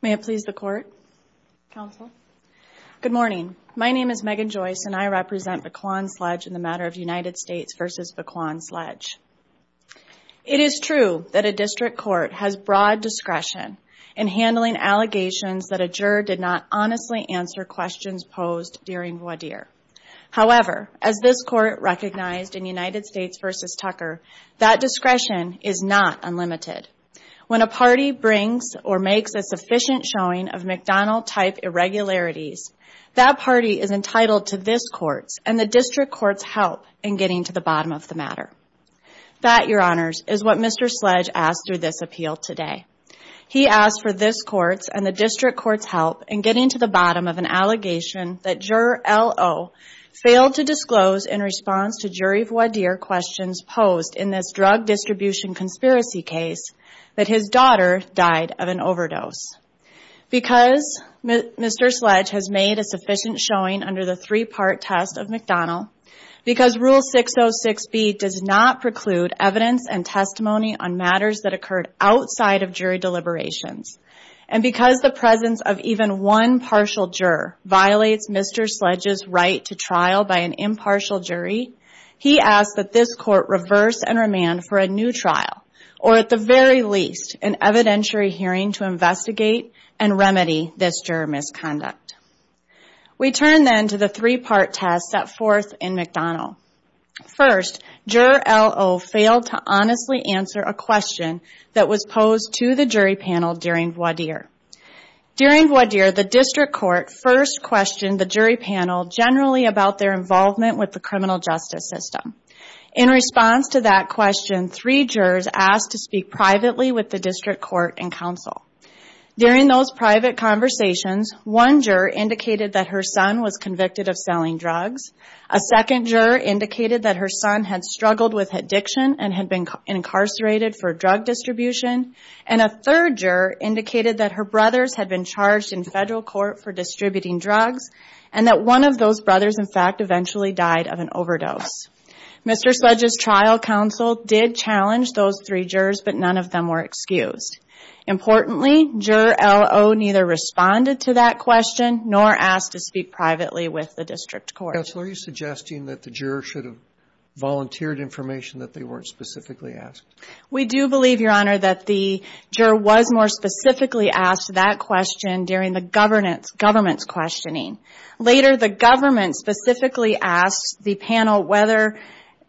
May it please the Court, Counsel. Good morning. My name is Megan Joyce and I represent Vaquan Sledge in the matter of United States v. Vaquan Sledge. It is true that a district court has broad discretion in handling allegations that a juror did not honestly answer questions posed during voir dire. However, as this Court recognized in United States v. Tucker, that discretion is not unlimited. When a party brings or makes a sufficient showing of McDonnell-type irregularities, that party is entitled to this Court's and the district Court's help in getting to the bottom of the matter. That, Your Honors, is what Mr. Sledge asked through this appeal today. He asked for this Court's and the district Court's help in getting to the bottom of an allegation that juror L.O. failed to disclose in response to jury voir dire questions posed in this drug distribution conspiracy case that his daughter died of an overdose. Because Mr. Sledge has made a sufficient showing under the three-part test of McDonnell, because Rule 606B does not preclude evidence and testimony on matters that occurred outside of jury deliberations, and because the presence of even one partial juror violates Mr. Sledge's right to trial by an impartial jury, he asked that this Court reverse and remand for a new trial, or at the very least, an evidentiary hearing to investigate and remedy this juror misconduct. We turn then to the three-part test set forth in McDonnell. First, juror L.O. failed to honestly answer a question that was posed to the jury panel during voir dire. During voir dire, the district court first questioned the jury panel generally about their involvement with the criminal justice system. In response to that question, three jurors asked to speak privately with the district court and counsel. During those private conversations, one juror indicated that her son was convicted of selling drugs, a second juror indicated that her son had struggled with addiction and had been incarcerated for drug distribution, and a third juror indicated that her brothers had been charged in federal court for distributing drugs and that one of those brothers, in fact, eventually died of an overdose. Mr. Sledge's trial counsel did challenge those three jurors, but none of them were excused. Importantly, juror L.O. neither responded to that question nor asked to speak privately with the district court. Counsel, are you suggesting that the juror should have volunteered information that they weren't specifically asked? We do believe, Your Honor, that the juror was more specifically asked that question during the governance questioning. Later, the government specifically asked the panel whether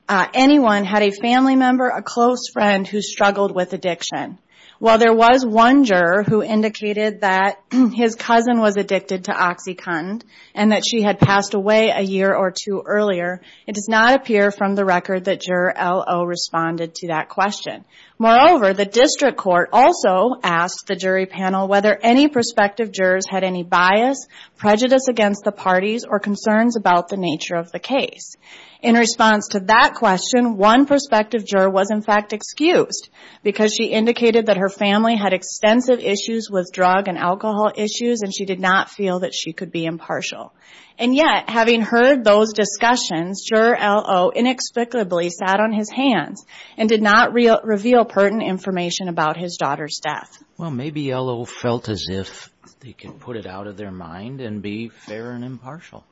anyone had a family member, a close friend who struggled with addiction. While there was one juror who indicated that his cousin was addicted to OxyContin and that she had passed away a year or two earlier, it does not appear from the record that juror L.O. responded to that question. Moreover, the district court also asked the jury panel whether any prospective jurors had any bias, prejudice against the parties, or concerns about the nature of the case. In response to that question, one prospective juror was, in fact, excused because she indicated that her family had extensive issues with drug and alcohol issues and she did not feel that she could be impartial. And yet, having heard those discussions, juror L.O. inexplicably sat on his hands and did not reveal pertinent information about his daughter's death. Well, maybe L.O. felt as if they could put it out of their mind and be fair and impartial.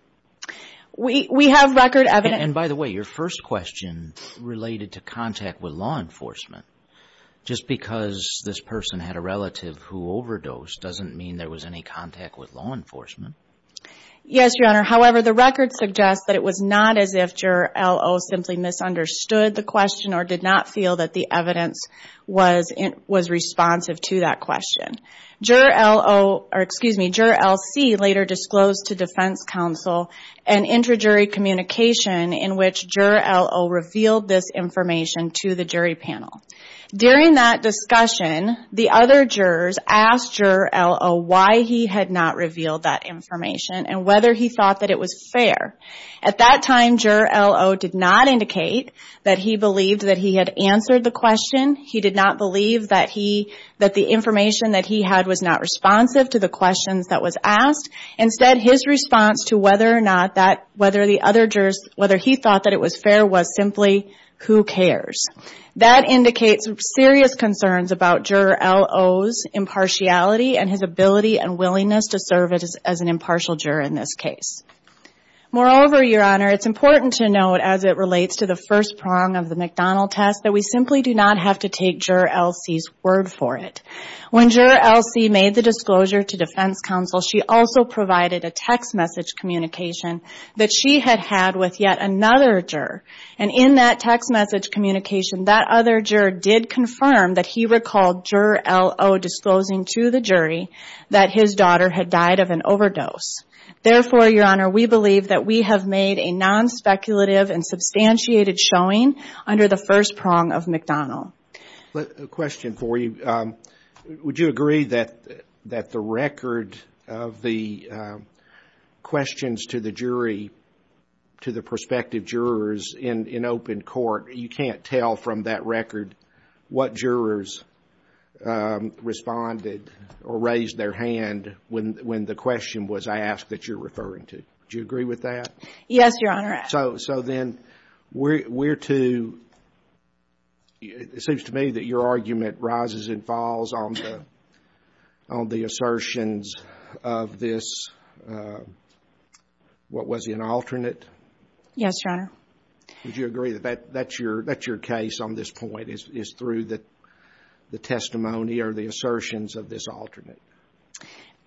And by the way, your first question related to contact with law enforcement. Just because this person had a relative who overdosed doesn't mean there was any contact with law enforcement. Yes, Your Honor. However, the record suggests that it was not as if juror L.O. simply misunderstood the question or did not feel that the evidence was responsive to that question. Juror L.C. later disclosed to defense counsel an interjury communication in which juror L.O. revealed this information to the jury panel. During that discussion, the other jurors asked juror L.O. why he had not revealed that information and whether he thought that it was fair. At that time, juror L.O. did not indicate that he believed that he had answered the question. He did not believe that the information that he had was not responsive to the questions that was asked. Instead, his response to whether he thought that it was fair was simply, who cares. That indicates serious concerns about juror L.O.'s impartiality and his ability and willingness to serve as an impartial juror in this case. Moreover, Your Honor, it's important to note as it relates to the first prong of the McDonnell test that we simply do not have to take juror L.C.'s word for it. When juror L.C. made the disclosure to defense counsel, she also provided a text message communication that she had had with yet another juror. And in that text message communication, that other juror did confirm that he recalled juror L.O. disclosing to the jury that his daughter had died of an overdose. Therefore, Your Honor, we believe that we have made a non-speculative and substantiated showing under the first prong of McDonnell. A question for you. Would you agree that the record of the questions to the jury, to the prospective jurors in open court, you can't tell from that record what jurors responded or raised their hand when the question was asked that you're referring to? Do you agree with that? Yes, Your Honor. So then we're to, it seems to me that your argument rises and falls on the assertions of this, what was it, an alternate? Yes, Your Honor. Would you agree that that's your case on this point, is through the testimony or the assertions of this alternate?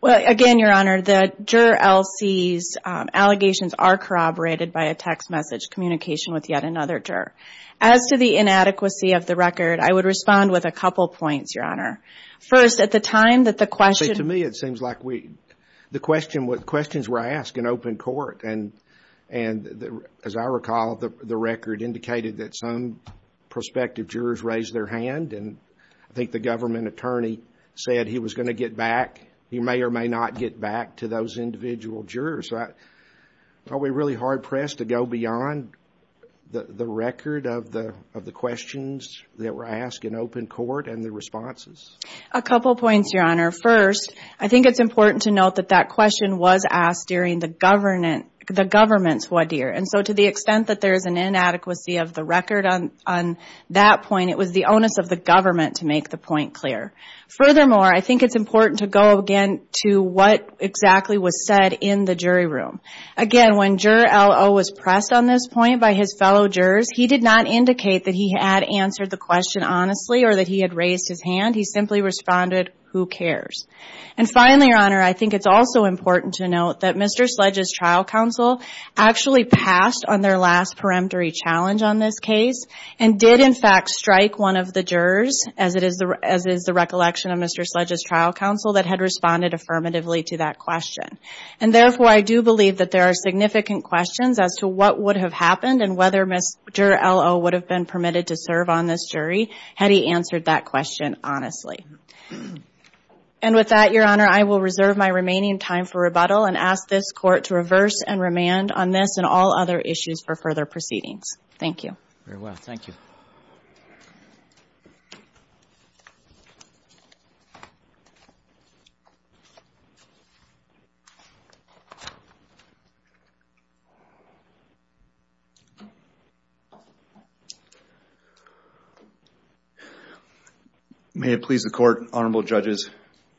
Well, again, Your Honor, the juror L.C.'s allegations are corroborated by a text message communication with yet another juror. As to the inadequacy of the record, I would respond with a couple points, Your Honor. First, at the time that the question... I think the government attorney said he was going to get back. He may or may not get back to those individual jurors. Are we really hard-pressed to go beyond the record of the questions that were asked in open court and the responses? A couple points, Your Honor. First, I think it's important to note that that question was asked during the government's wadir. And so to the extent that there is an inadequacy of the record on that point, it was the onus of the government to make the point clear. Furthermore, I think it's important to go, again, to what exactly was said in the jury room. Again, when Juror L.O. was pressed on this point by his fellow jurors, he did not indicate that he had answered the question honestly or that he had raised his hand. He simply responded, who cares? And finally, Your Honor, I think it's also important to note that Mr. Sledge's trial counsel actually passed on their last peremptory challenge on this case and did, in fact, strike one of the jurors, as is the recollection of Mr. Sledge's trial counsel, that had responded affirmatively to that question. And therefore, I do believe that there are significant questions as to what would have happened and whether Mr. L.O. would have been permitted to serve on this jury had he answered that question honestly. And with that, Your Honor, I will reserve my remaining time for rebuttal and ask this Court to reverse and remand on this and all other issues for further proceedings. Thank you. Very well. Thank you. May it please the Court, Honorable Judges,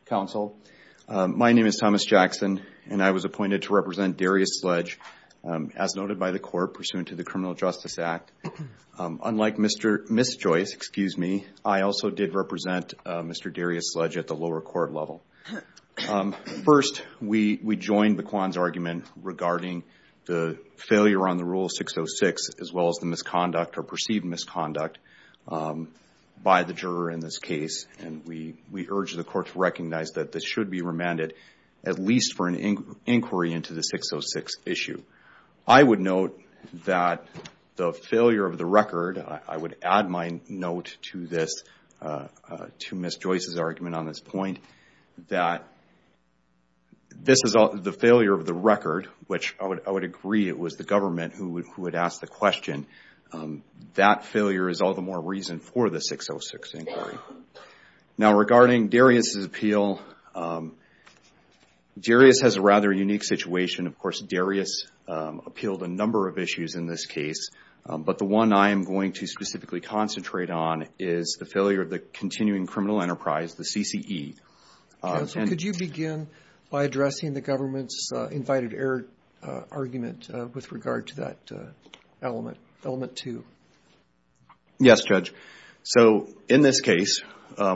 Counsel. My name is Thomas Jackson, and I was appointed to represent Darius Sledge, as noted by the Court pursuant to the Criminal Justice Act. Unlike Ms. Joyce, excuse me, I also did represent Mr. Darius Sledge at the lower court level. First, we joined the Kwan's argument regarding the failure on the Rule 606 as well as the misconduct or perceived misconduct by the juror in this case, and we urge the Court to recognize that this should be remanded at least for an inquiry into the 606 issue. I would note that the failure of the record, I would add my note to Ms. Joyce's argument on this point, that this is the failure of the record, which I would agree it was the government who had asked the question. That failure is all the more reason for the 606 inquiry. Now, regarding Darius's appeal, Darius has a rather unique situation. Of course, Darius appealed a number of issues in this case, but the one I am going to specifically concentrate on is the failure of the Continuing Criminal Enterprise, the CCE. Counsel, could you begin by addressing the government's invited error argument with regard to that element two? Yes, Judge. In this case,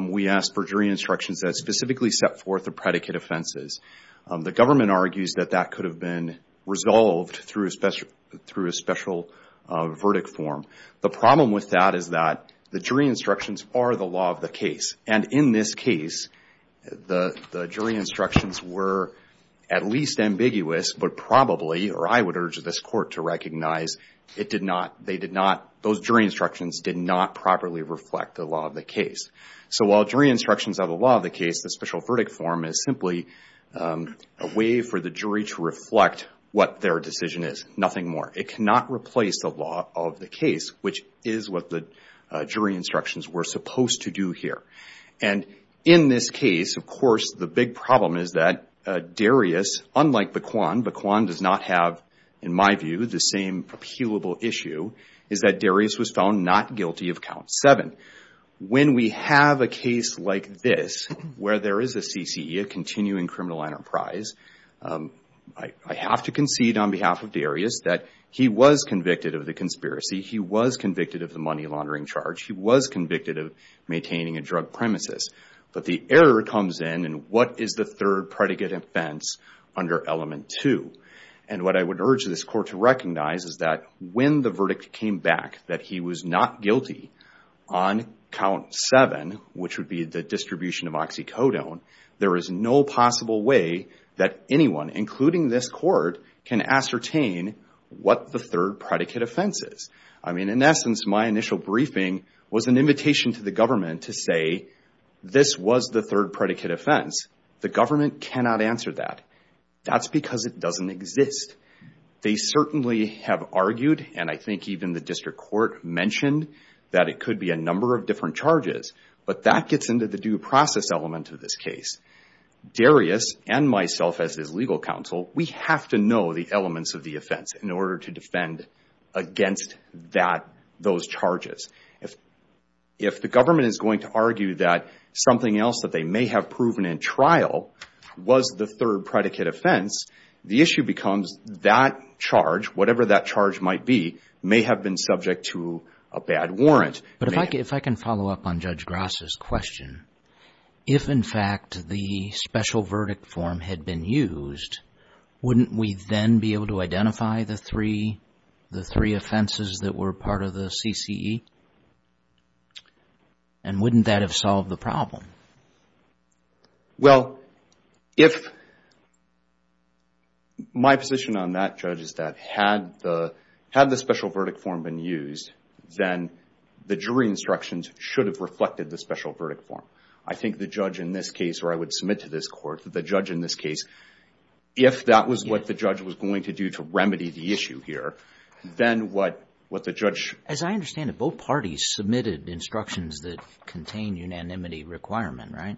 we asked for jury instructions that specifically set forth the predicate offenses. The government argues that that could have been resolved through a special verdict form. The problem with that is that the jury instructions are the law of the case, and in this case, the jury instructions were at least ambiguous, but probably, or I would urge this Court to recognize, those jury instructions did not properly reflect the law of the case. So while jury instructions are the law of the case, the special verdict form is simply a way for the jury to reflect what their decision is, nothing more. It cannot replace the law of the case, which is what the jury instructions were supposed to do here. In this case, of course, the big problem is that Darius, unlike Baquan, Baquan does not have, in my view, the same appealable issue, is that Darius was found not guilty of count seven. When we have a case like this, where there is a CCE, a Continuing Criminal Enterprise, I have to concede on behalf of Darius that he was convicted of the conspiracy, he was convicted of the money laundering charge, he was convicted of maintaining a drug premises, but the error comes in, and what is the third predicate offense under element two? And what I would urge this Court to recognize is that when the verdict came back that he was not guilty on count seven, which would be the distribution of oxycodone, there is no possible way that anyone, including this Court, can ascertain what the third predicate offense is. I mean, in essence, my initial briefing was an invitation to the government to say, this was the third predicate offense. The government cannot answer that. That's because it doesn't exist. They certainly have argued, and I think even the District Court mentioned, that it could be a number of different charges, but that gets into the due process element of this case. Darius, and myself as his legal counsel, we have to know the elements of the offense in order to defend against those charges. If the government is going to argue that something else that they may have proven in trial was the third predicate offense, the issue becomes that charge, whatever that charge might be, may have been subject to a bad warrant. But if I can follow up on Judge Grass's question, if, in fact, the special verdict form had been used, wouldn't we then be able to identify the three offenses that were part of the CCE? And wouldn't that have solved the problem? Well, if my position on that, Judge, is that had the special verdict form been used, then the jury instructions should have reflected the special verdict form. I think the judge in this case, or I would submit to this Court, the judge in this case, if that was what the judge was going to do to remedy the issue here, then what the judge... As I understand it, both parties submitted instructions that contained unanimity requirement, right?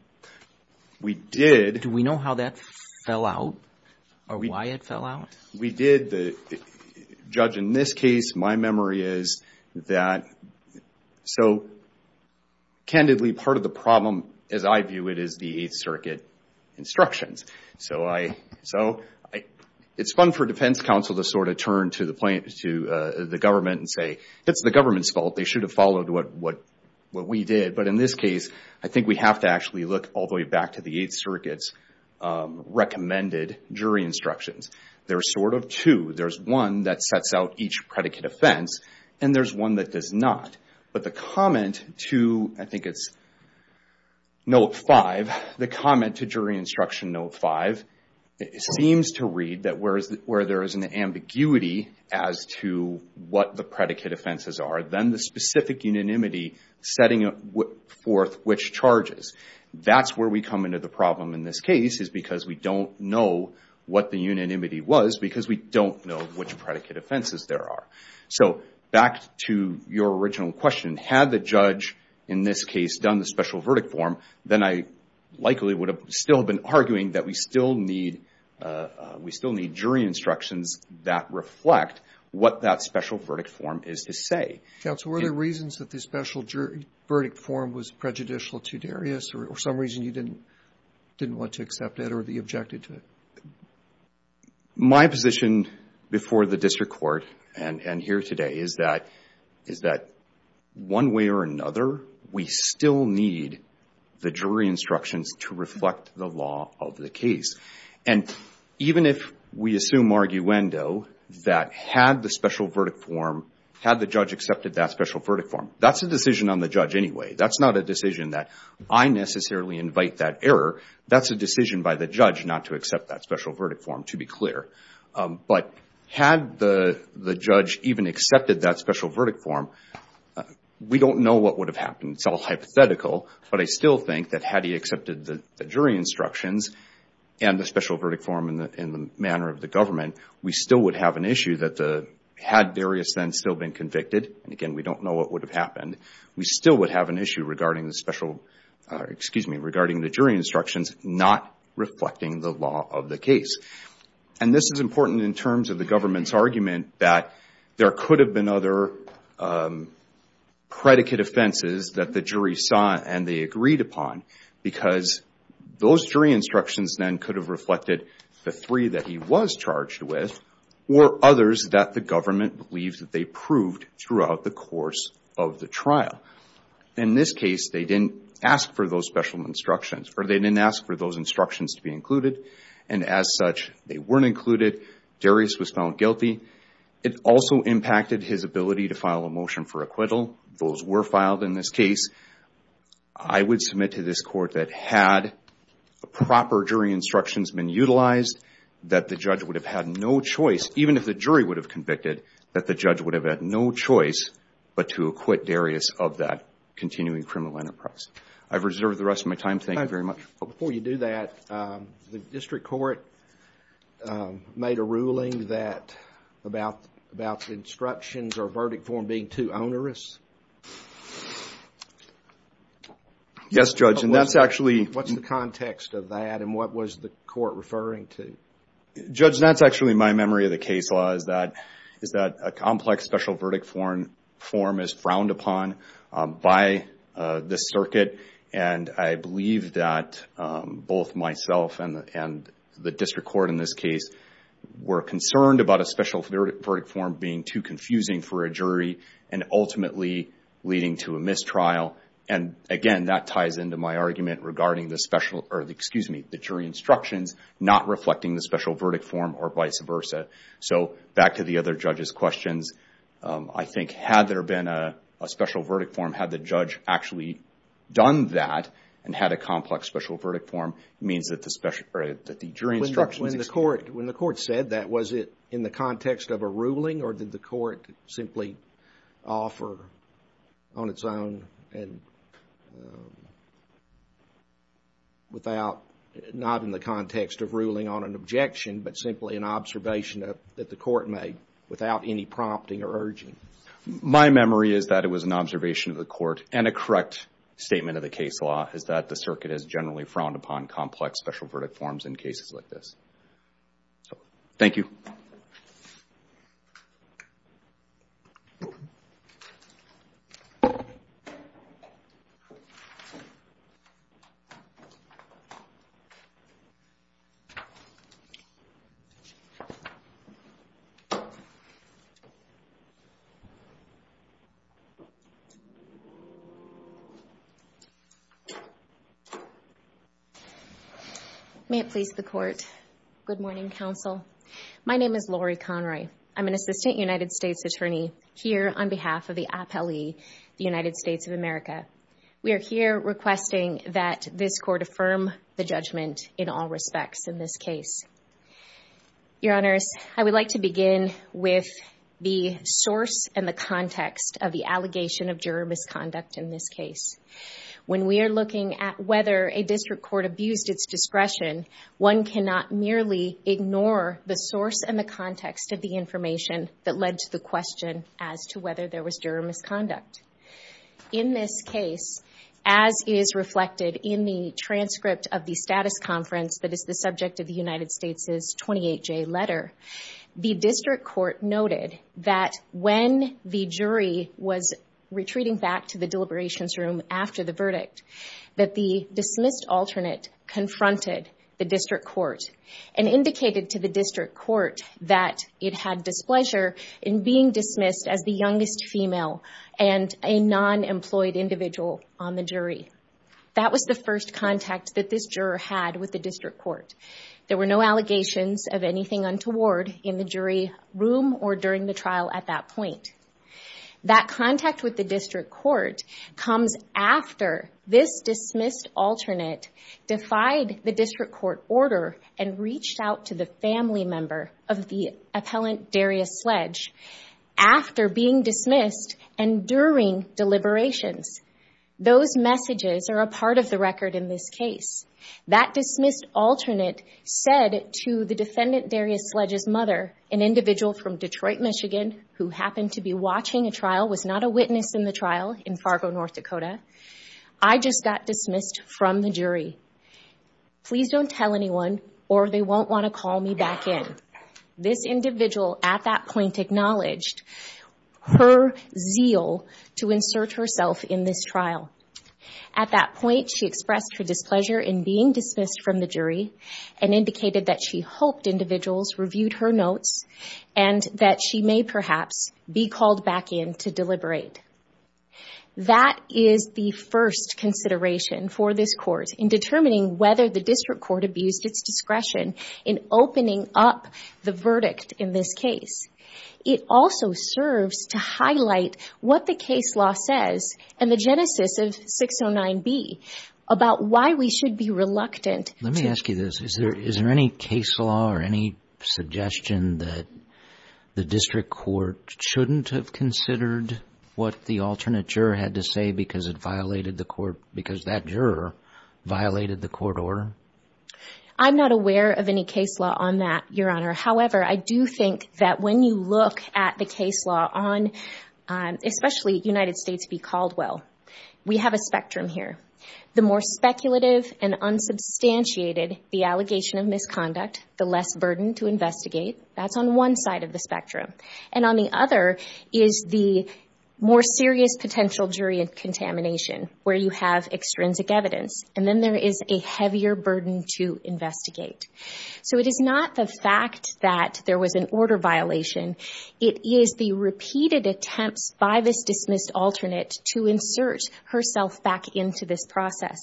We did. Do we know how that fell out, or why it fell out? We did. The judge in this case, my memory is that... Candidly, part of the problem, as I view it, is the Eighth Circuit instructions. So it's fun for defense counsel to sort of turn to the government and say, it's the government's fault. They should have followed what we did. But in this case, I think we have to actually look all the way back to the Eighth Circuit's recommended jury instructions. There are sort of two. There's one that sets out each predicate offense, and there's one that does not. But the comment to, I think it's Note 5, the comment to jury instruction Note 5, seems to read that where there is an ambiguity as to what the predicate offenses are, then the specific unanimity setting forth which charges. That's where we come into the problem in this case, is because we don't know what the unanimity was, because we don't know which predicate offenses there are. So back to your original question, had the judge in this case done the special verdict form, then I likely would have still been arguing that we still need jury instructions that reflect what that special verdict form is to say. Counsel, were there reasons that the special jury verdict form was prejudicial to Darius, or for some reason you didn't want to accept it or be objected to it? My position before the district court and here today is that one way or another, we still need the jury instructions to reflect the law of the case. And even if we assume arguendo that had the special verdict form, had the judge accepted that special verdict form, that's a decision on the judge anyway. That's not a decision that I necessarily invite that error. That's a decision by the judge not to accept that special verdict form, to be clear. But had the judge even accepted that special verdict form, we don't know what would have happened. It's all hypothetical, but I still think that had he accepted the jury instructions and the special verdict form in the manner of the government, we still would have an issue that had Darius then still been convicted, and again, we don't know what would have happened, we still would have an issue regarding the special, or excuse me, regarding the jury instructions not reflecting the law of the case. And this is important in terms of the government's argument that there could have been other predicate offenses that the jury saw and they agreed upon because those jury instructions then could have reflected the three that he was charged with or others that the government believed that they proved throughout the course of the trial. In this case, they didn't ask for those special instructions, or they didn't ask for those instructions to be included, and as such, they weren't included. Darius was found guilty. It also impacted his ability to file a motion for acquittal. Those were filed in this case. I would submit to this court that had proper jury instructions been utilized, that the judge would have had no choice, even if the jury would have convicted, that the judge would have had no choice but to acquit Darius of that continuing criminal enterprise. I've reserved the rest of my time. Thank you very much. Before you do that, the district court made a ruling about the instructions or verdict form being too onerous. Yes, Judge, and that's actually… What's the context of that and what was the court referring to? Judge, that's actually my memory of the case law, is that a complex special verdict form is frowned upon by this circuit, and I believe that both myself and the district court in this case were concerned and ultimately leading to a mistrial, and again, that ties into my argument regarding the jury instructions not reflecting the special verdict form or vice versa. So back to the other judges' questions, I think had there been a special verdict form, had the judge actually done that and had a complex special verdict form, it means that the jury instructions… When the court said that, was it in the context of a ruling or did the court simply offer on its own and without, not in the context of ruling on an objection, but simply an observation that the court made without any prompting or urging? My memory is that it was an observation of the court and a correct statement of the case law, is that the circuit has generally frowned upon complex special verdict forms in cases like this. Thank you. May it please the court. Good morning, counsel. My name is Lori Conroy. I'm an assistant United States attorney here on behalf of the APELE, the United States of America. We are here requesting that this court affirm the judgment in all respects in this case. Your Honors, I would like to begin with the source and the context of the allegation of juror misconduct in this case. When we are looking at whether a district court abused its discretion, one cannot merely ignore the source and the context of the information that led to the question as to whether there was juror misconduct. In this case, as is reflected in the transcript of the status conference that is the subject of the United States' 28-J letter, the district court noted that when the jury was retreating back to the deliberations room after the verdict that the dismissed alternate confronted the district court and indicated to the district court that it had displeasure in being dismissed as the youngest female and a non-employed individual on the jury. That was the first contact that this juror had with the district court. There were no allegations of anything untoward in the jury room or during the trial at that point. That contact with the district court comes after this dismissed alternate defied the district court order and reached out to the family member of the appellant Darius Sledge after being dismissed and during deliberations. Those messages are a part of the record in this case. That dismissed alternate said to the defendant Darius Sledge's mother, an individual from Detroit, Michigan, who happened to be watching a trial, was not a witness in the trial in Fargo, North Dakota, I just got dismissed from the jury. Please don't tell anyone or they won't want to call me back in. This individual at that point acknowledged her zeal to insert herself in this trial. At that point, she expressed her displeasure in being dismissed from the jury and indicated that she hoped individuals reviewed her notes and that she may perhaps be called back in to deliberate. That is the first consideration for this court in determining whether the district court abused its discretion in opening up the verdict in this case. It also serves to highlight what the case law says and the genesis of 609B about why we should be reluctant. Let me ask you this. Is there any case law or any suggestion that the district court shouldn't have considered what the alternate juror had to say because that juror violated the court order? I'm not aware of any case law on that, Your Honor. However, I do think that when you look at the case law on, especially United States v. Caldwell, we have a spectrum here. The more speculative and unsubstantiated the allegation of misconduct, the less burden to investigate. That's on one side of the spectrum, and on the other is the more serious potential jury contamination where you have extrinsic evidence, and then there is a heavier burden to investigate. So it is not the fact that there was an order violation. It is the repeated attempts by this dismissed alternate to insert herself back into this process.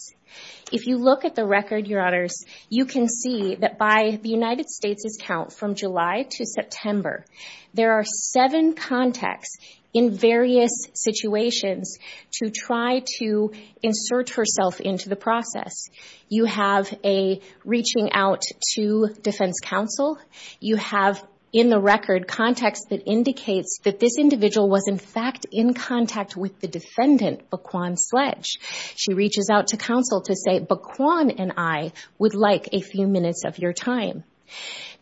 If you look at the record, Your Honors, you can see that by the United States' count from July to September, there are seven contexts in various situations to try to insert herself into the process. You have a reaching out to defense counsel. You have in the record context that indicates that this individual was in fact in contact with the defendant, Baquan Sledge. She reaches out to counsel to say, Baquan and I would like a few minutes of your time.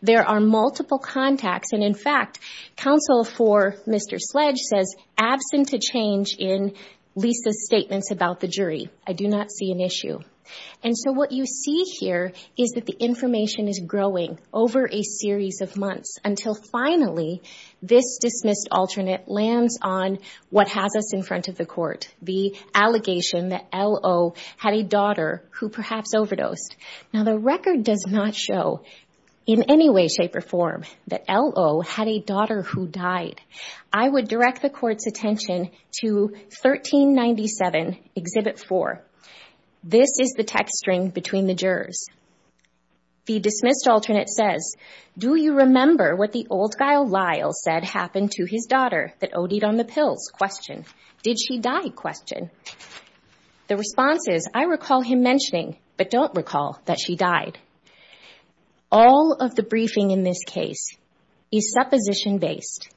There are multiple contacts, and in fact, counsel for Mr. Sledge says, absent a change in Lisa's statements about the jury, I do not see an issue. And so what you see here is that the information is growing over a series of months until finally this dismissed alternate lands on what has us in front of the court, the allegation that L.O. had a daughter who perhaps overdosed. Now the record does not show in any way, shape, or form that L.O. had a daughter who died. I would direct the court's attention to 1397, Exhibit 4. This is the text string between the jurors. The dismissed alternate says, Do you remember what the old guy Lyle said happened to his daughter that OD'd on the pills? Did she die? The response is, I recall him mentioning, but don't recall that she died. All of the briefing in this case is supposition-based.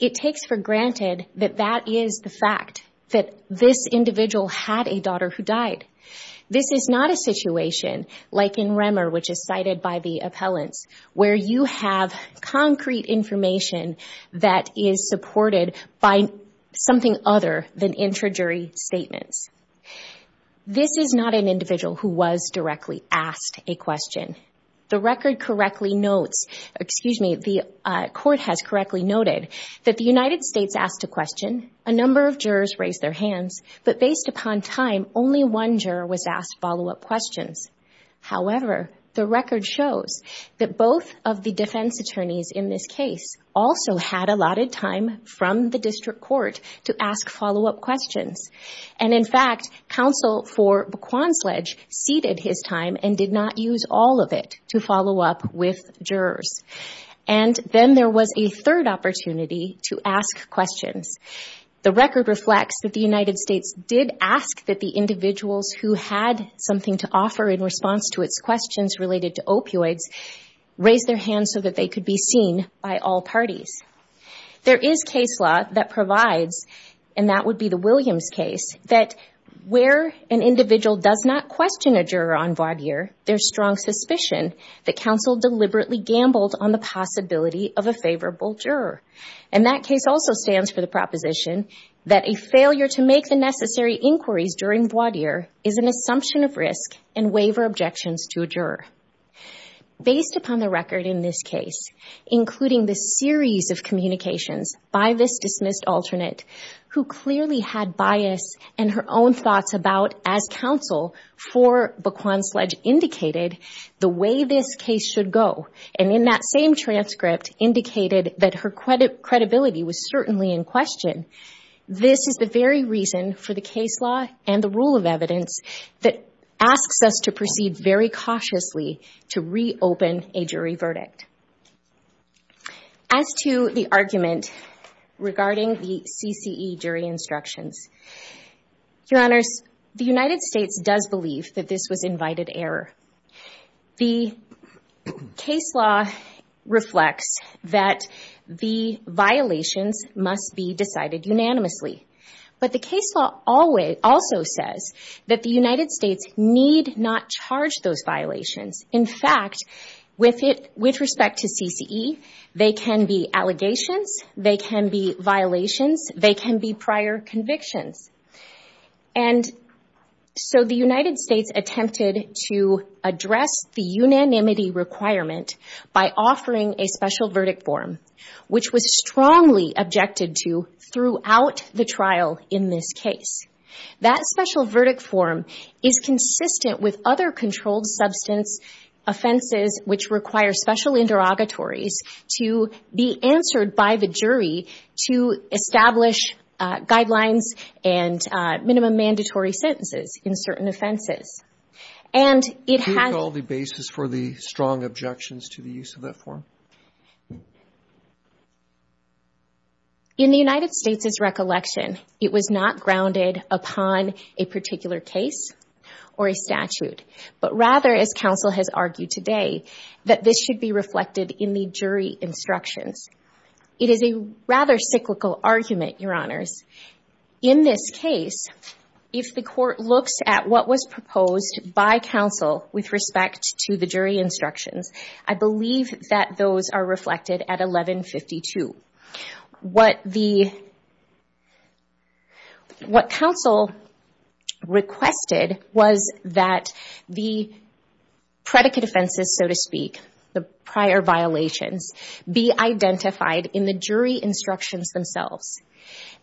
It takes for granted that that is the fact, that this individual had a daughter who died. This is not a situation like in Remmer, which is cited by the appellants, where you have concrete information that is supported by something other than intra-jury statements. This is not an individual who was directly asked a question. The record correctly notes, excuse me, the court has correctly noted, that the United States asked a question, a number of jurors raised their hands, but based upon time, only one juror was asked follow-up questions. However, the record shows that both of the defense attorneys in this case also had allotted time from the district court to ask follow-up questions. And, in fact, counsel for B'Quan Sledge ceded his time and did not use all of it to follow up with jurors. And then there was a third opportunity to ask questions. The record reflects that the United States did ask that the individuals who had something to offer in response to its questions related to opioids raise their hands so that they could be seen by all parties. There is case law that provides, and that would be the Williams case, that where an individual does not question a juror on voir dire, there's strong suspicion that counsel deliberately gambled on the possibility of a favorable juror. And that case also stands for the proposition that a failure to make the necessary inquiries during voir dire is an assumption of risk and waiver objections to a juror. Based upon the record in this case, including the series of communications by this dismissed alternate, who clearly had bias and her own thoughts about, as counsel for B'Quan Sledge indicated, the way this case should go. And in that same transcript indicated that her credibility was certainly in question. This is the very reason for the case law and the rule of evidence that asks us to proceed very cautiously to reopen a jury verdict. As to the argument regarding the CCE jury instructions, Your Honors, the United States does believe that this was invited error. The case law reflects that the violations must be decided unanimously. But the case law also says that the United States need not charge those violations. In fact, with respect to CCE, they can be allegations, they can be violations, they can be prior convictions. And so the United States attempted to address the unanimity requirement by offering a special verdict form, which was strongly objected to throughout the trial in this case. That special verdict form is consistent with other controlled substance offenses which require special interrogatories to be answered by the jury to establish guidelines and minimum mandatory sentences in certain offenses. And it has... Can you recall the basis for the strong objections to the use of that form? In the United States' recollection, it was not grounded upon a particular case or a statute, but rather, as counsel has argued today, that this should be reflected in the jury instructions. It is a rather cyclical argument, Your Honors. In this case, if the court looks at what was proposed by counsel with respect to the jury instructions, I believe that those are reflected at 1152. What counsel requested was that the predicate offenses, so to speak, the prior violations, be identified in the jury instructions themselves.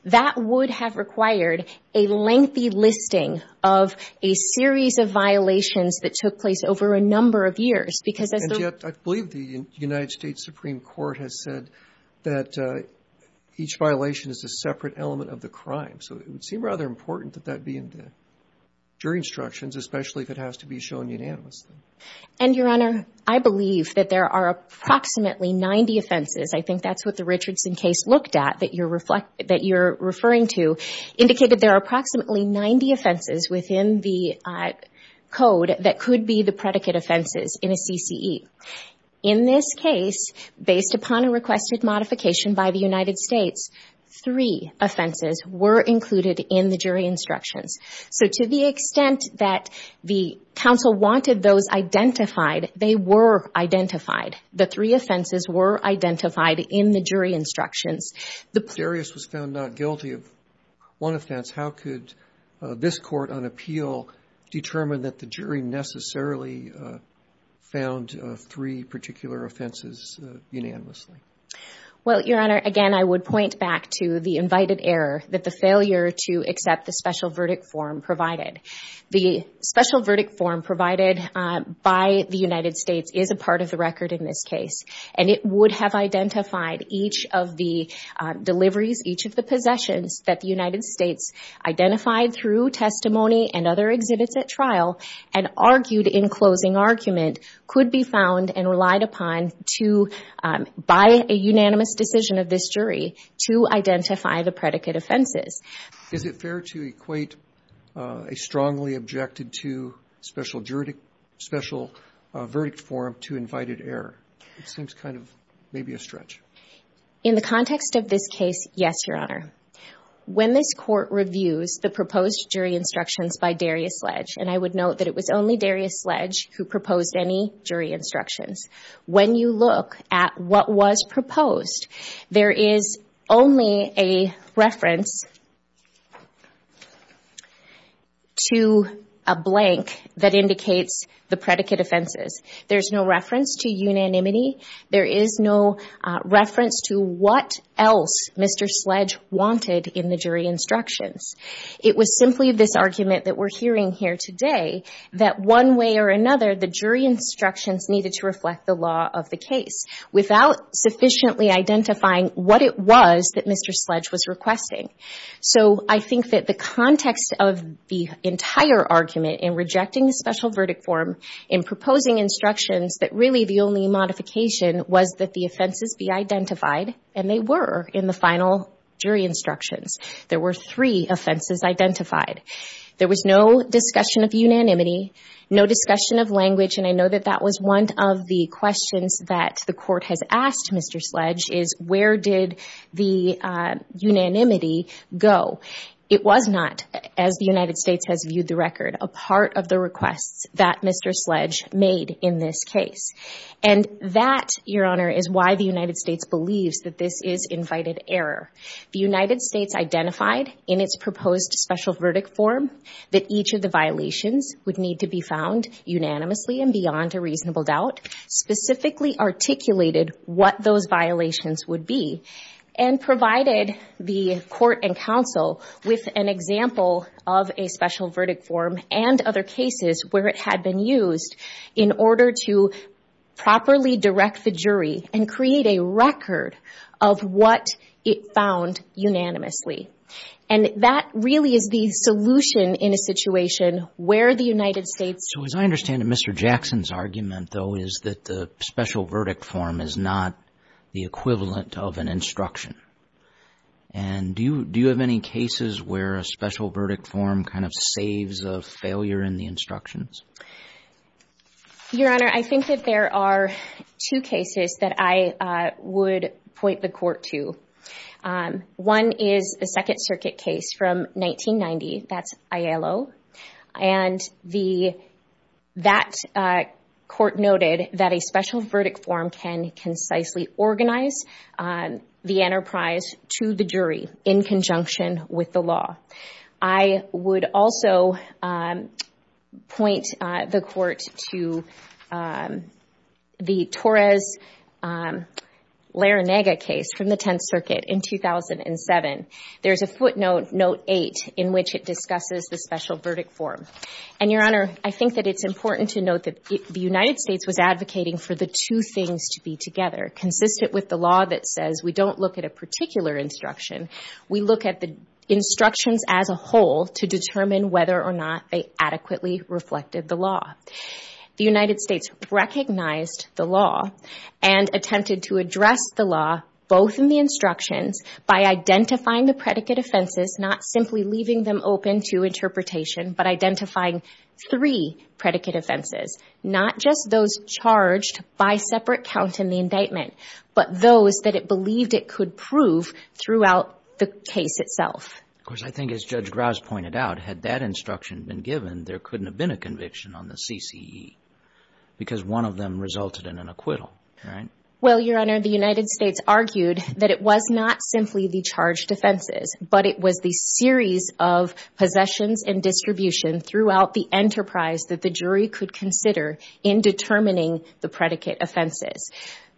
That would have required a lengthy listing of a series of violations that took place over a number of years because as the... And yet, I believe the United States Supreme Court has said that each violation is a separate element of the crime. So it would seem rather important that that be in the jury instructions, especially if it has to be shown unanimously. And, Your Honor, I believe that there are approximately 90 offenses. I think that's what the Richardson case looked at that you're referring to, indicated there are approximately 90 offenses within the code that could be the predicate offenses in a CCE. In this case, based upon a requested modification by the United States, three offenses were included in the jury instructions. So to the extent that the counsel wanted those identified, they were identified. The three offenses were identified in the jury instructions. If Darius was found not guilty of one offense, how could this court on appeal determine that the jury necessarily found three particular offenses unanimously? Well, Your Honor, again, I would point back to the invited error, that the failure to accept the special verdict form provided. The special verdict form provided by the United States is a part of the record in this case, and it would have identified each of the deliveries, each of the possessions, that the United States identified through testimony and other exhibits at trial and argued in closing argument could be found and relied upon by a unanimous decision of this jury to identify the predicate offenses. Is it fair to equate a strongly objected to special verdict form to invited error? It seems kind of maybe a stretch. In the context of this case, yes, Your Honor. When this court reviews the proposed jury instructions by Darius Sledge, and I would note that it was only Darius Sledge who proposed any jury instructions, when you look at what was proposed, there is only a reference to a blank that indicates the predicate offenses. There's no reference to unanimity. There is no reference to what else Mr. Sledge wanted in the jury instructions. It was simply this argument that we're hearing here today, that one way or another the jury instructions needed to reflect the law of the case without sufficiently identifying what it was that Mr. Sledge was requesting. So I think that the context of the entire argument in rejecting the special verdict form, in proposing instructions that really the only modification was that the offenses be identified, and they were in the final jury instructions. There were three offenses identified. There was no discussion of unanimity, no discussion of language, and I know that that was one of the questions that the court has asked Mr. Sledge, is where did the unanimity go? It was not, as the United States has viewed the record, a part of the requests that Mr. Sledge made in this case. And that, Your Honor, is why the United States believes that this is invited error. The United States identified in its proposed special verdict form that each of the violations would need to be found unanimously and beyond a reasonable doubt, specifically articulated what those violations would be, and provided the court and counsel with an example of a special verdict form and other cases where it had been used in order to properly direct the jury and create a record of what it found unanimously. And that really is the solution in a situation where the United States... So as I understand it, Mr. Jackson's argument, though, is that the special verdict form is not the equivalent of an instruction. And do you have any cases where a special verdict form kind of saves a failure in the instructions? Your Honor, I think that there are two cases that I would point the court to. One is the Second Circuit case from 1990. That's Aiello. And that court noted that a special verdict form can concisely organize the enterprise to the jury in conjunction with the law. I would also point the court to the Torres-Laranega case from the Tenth Circuit in 2007. There's a footnote, note 8, in which it discusses the special verdict form. And, Your Honor, I think that it's important to note that the United States was advocating for the two things to be together, consistent with the law that says we don't look at a particular instruction. We look at the instructions as a whole to determine whether or not they adequately reflected the law. The United States recognized the law and attempted to address the law, both in the instructions, by identifying the predicate offenses, not simply leaving them open to interpretation, but identifying three predicate offenses, not just those charged by separate count in the indictment, but those that it believed it could prove throughout the case itself. Of course, I think as Judge Grouse pointed out, had that instruction been given, there couldn't have been a conviction on the CCE because one of them resulted in an acquittal, right? Well, Your Honor, the United States argued that it was not simply the charged offenses, but it was the series of possessions and distribution throughout the enterprise that the jury could consider in determining the predicate offenses.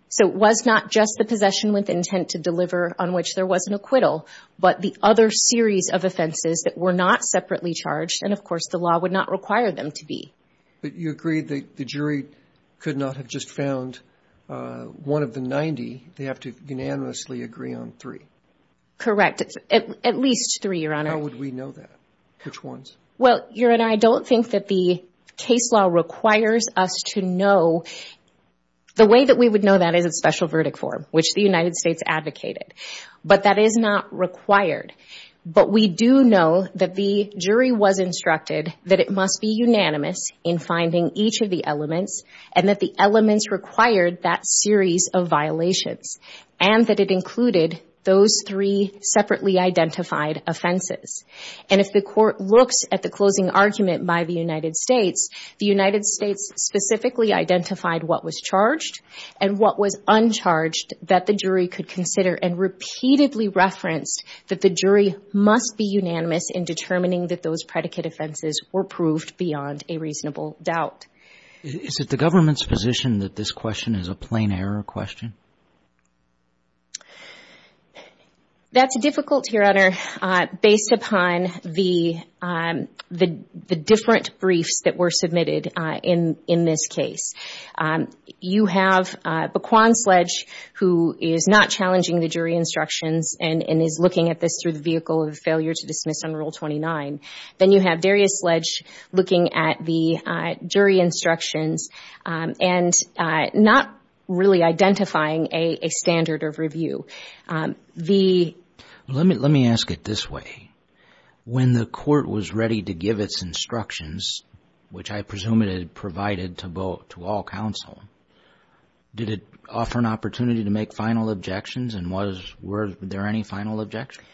So it was not just the possession with intent to deliver on which there was an acquittal, but the other series of offenses that were not separately charged, and of course the law would not require them to be. But you agree that the jury could not have just found one of the 90. They have to unanimously agree on three. Correct. At least three, Your Honor. How would we know that? Which ones? Well, Your Honor, I don't think that the case law requires us to know. The way that we would know that is a special verdict form, which the United States advocated. But that is not required. But we do know that the jury was instructed that it must be unanimous in finding each of the elements and that the elements required that series of violations, and that it included those three separately identified offenses. And if the court looks at the closing argument by the United States, the United States specifically identified what was charged and what was uncharged that the jury could consider and repeatedly referenced that the jury must be unanimous in determining that those predicate offenses were proved beyond a reasonable doubt. Is it the government's position that this question is a plain error question? That's difficult, Your Honor, based upon the different briefs that were submitted in this case. You have Baquan Sledge, who is not challenging the jury instructions and is looking at this through the vehicle of failure to dismiss under Rule 29. Then you have Darius Sledge looking at the jury instructions and not really identifying a standard of review. Let me ask it this way. When the court was ready to give its instructions, which I presume it had provided to all counsel, did it offer an opportunity to make final objections? And were there any final objections?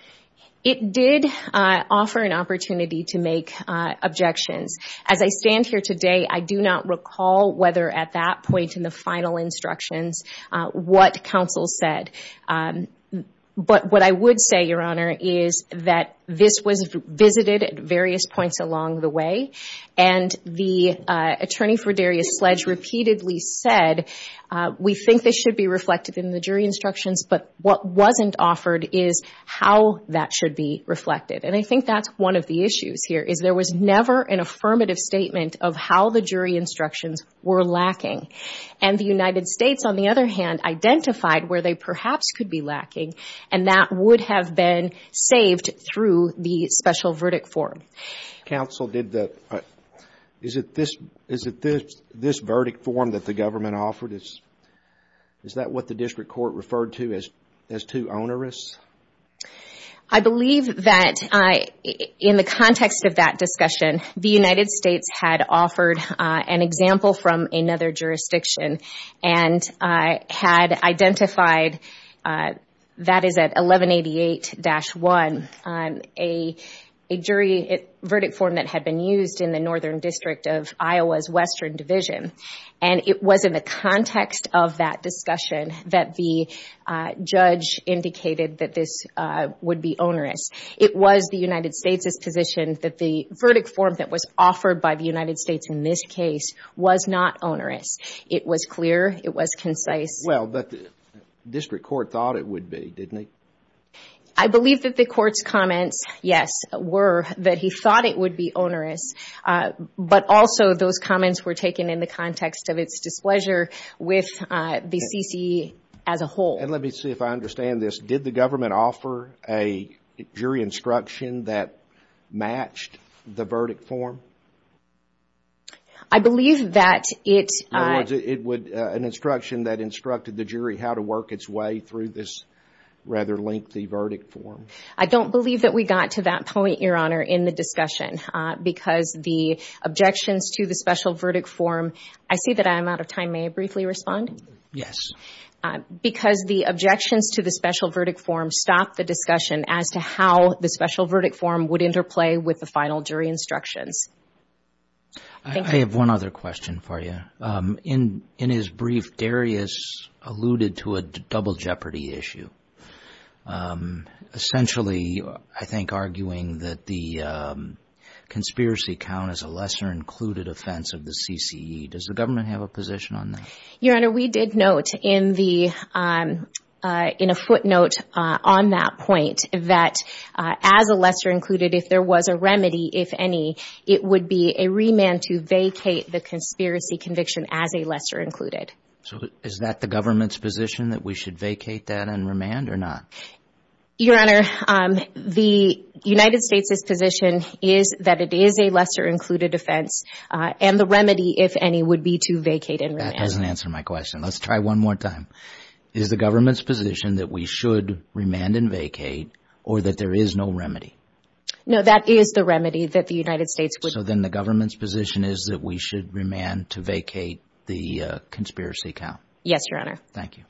It did offer an opportunity to make objections. As I stand here today, I do not recall whether at that point in the final instructions what counsel said, but what I would say, Your Honor, is that this was visited at various points along the way, and the attorney for Darius Sledge repeatedly said, we think this should be reflected in the jury instructions, but what wasn't offered is how that should be reflected. And I think that's one of the issues here, is there was never an affirmative statement of how the jury instructions were lacking. And the United States, on the other hand, identified where they perhaps could be lacking, and that would have been saved through the special verdict form. Counsel, is it this verdict form that the government offered? Is that what the district court referred to as too onerous? I believe that in the context of that discussion, the United States had offered an example from another jurisdiction and had identified, that is at 1188-1, a jury verdict form that had been used in the Northern District of Iowa's Western Division. And it was in the context of that discussion that the judge indicated that this would be onerous. It was the United States' position that the verdict form that was offered by the United States in this case was not onerous. It was clear. It was concise. Well, but the district court thought it would be, didn't it? I believe that the court's comments, yes, were that he thought it would be onerous, but also those comments were taken in the context of its displeasure with the CCE as a whole. And let me see if I understand this. Did the government offer a jury instruction that matched the verdict form? I believe that it would. An instruction that instructed the jury how to work its way through this rather lengthy verdict form. I don't believe that we got to that point, Your Honor, in the discussion because the objections to the special verdict form, I see that I'm out of time. May I briefly respond? Yes. Because the objections to the special verdict form stopped the discussion as to how the special verdict form would interplay with the final jury instructions. I have one other question for you. In his brief, Darius alluded to a double jeopardy issue. Essentially, I think, arguing that the conspiracy count is a lesser included offense of the CCE. Does the government have a position on that? Your Honor, we did note in a footnote on that point that as a lesser included, if there was a remedy, if any, it would be a remand to vacate the conspiracy conviction as a lesser included. Is that the government's position that we should vacate that and remand or not? Your Honor, the United States' position is that it is a lesser included offense, and the remedy, if any, would be to vacate and remand. That doesn't answer my question. Let's try one more time. Is the government's position that we should remand and vacate or that there is no remedy? No, that is the remedy that the United States would… So then the government's position is that we should remand to vacate the conspiracy count? Yes, Your Honor. Thank you.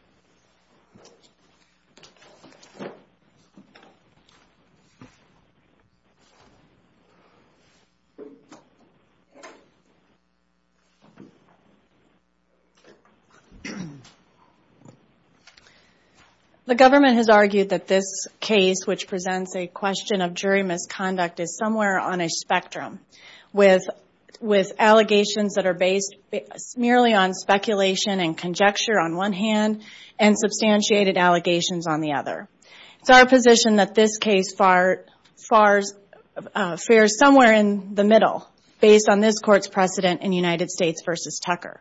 The government has argued that this case, which presents a question of jury misconduct, is somewhere on a spectrum with allegations that are based merely on speculation and conjecture on one hand and substantiated allegations on the other. It's our position that this case fares somewhere in the middle, based on this Court's precedent in United States v. Tucker.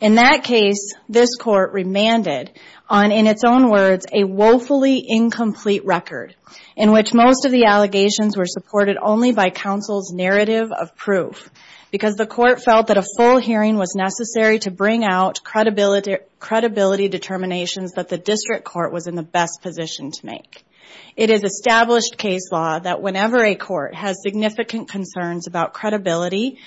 In that case, this Court remanded on, in its own words, a woefully incomplete record in which most of the allegations were supported only by counsel's narrative of proof because the Court felt that a full hearing was necessary to bring out credibility determinations that the district court was in the best position to make. It is established case law that whenever a court has significant concerns about credibility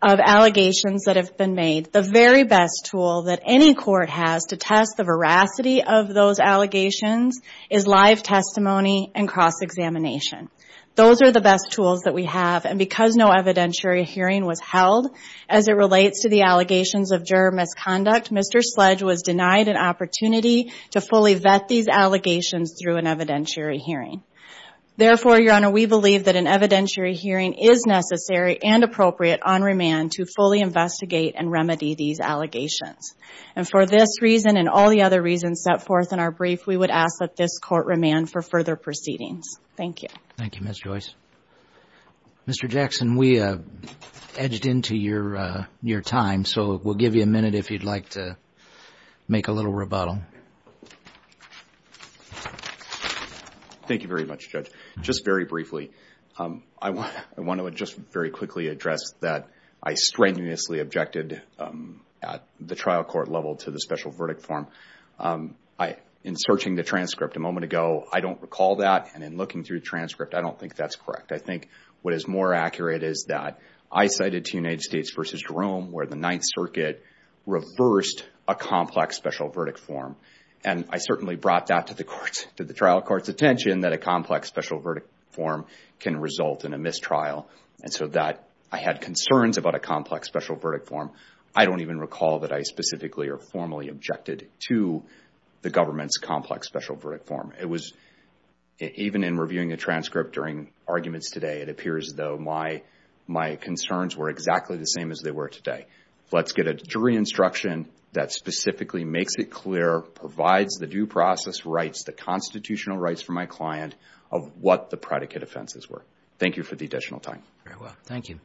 of allegations that have been made, the very best tool that any court has to test the veracity of those allegations is live testimony and cross-examination. Those are the best tools that we have, and because no evidentiary hearing was held, as it relates to the allegations of juror misconduct, Mr. Sledge was denied an opportunity to fully vet these allegations through an evidentiary hearing. Therefore, Your Honor, we believe that an evidentiary hearing is necessary and appropriate on remand to fully investigate and remedy these allegations. And for this reason and all the other reasons set forth in our brief, we would ask that this Court remand for further proceedings. Thank you. Thank you, Ms. Joyce. Mr. Jackson, we edged into your time, so we'll give you a minute if you'd like to make a little rebuttal. Thank you very much, Judge. Just very briefly, I want to just very quickly address that I strenuously objected at the trial court level to the special verdict form. In searching the transcript a moment ago, I don't recall that, and in looking through the transcript, I don't think that's correct. I think what is more accurate is that I cited to United States v. Jerome, where the Ninth Circuit reversed a complex special verdict form, and I certainly brought that to the trial court's attention, that a complex special verdict form can result in a mistrial, and so that I had concerns about a complex special verdict form. I don't even recall that I specifically or formally objected to the government's complex special verdict form. Even in reviewing the transcript during arguments today, it appears as though my concerns were exactly the same as they were today. Let's get a jury instruction that specifically makes it clear, provides the due process rights, the constitutional rights for my client, of what the predicate offenses were. Thank you for the additional time. Very well. Thank you.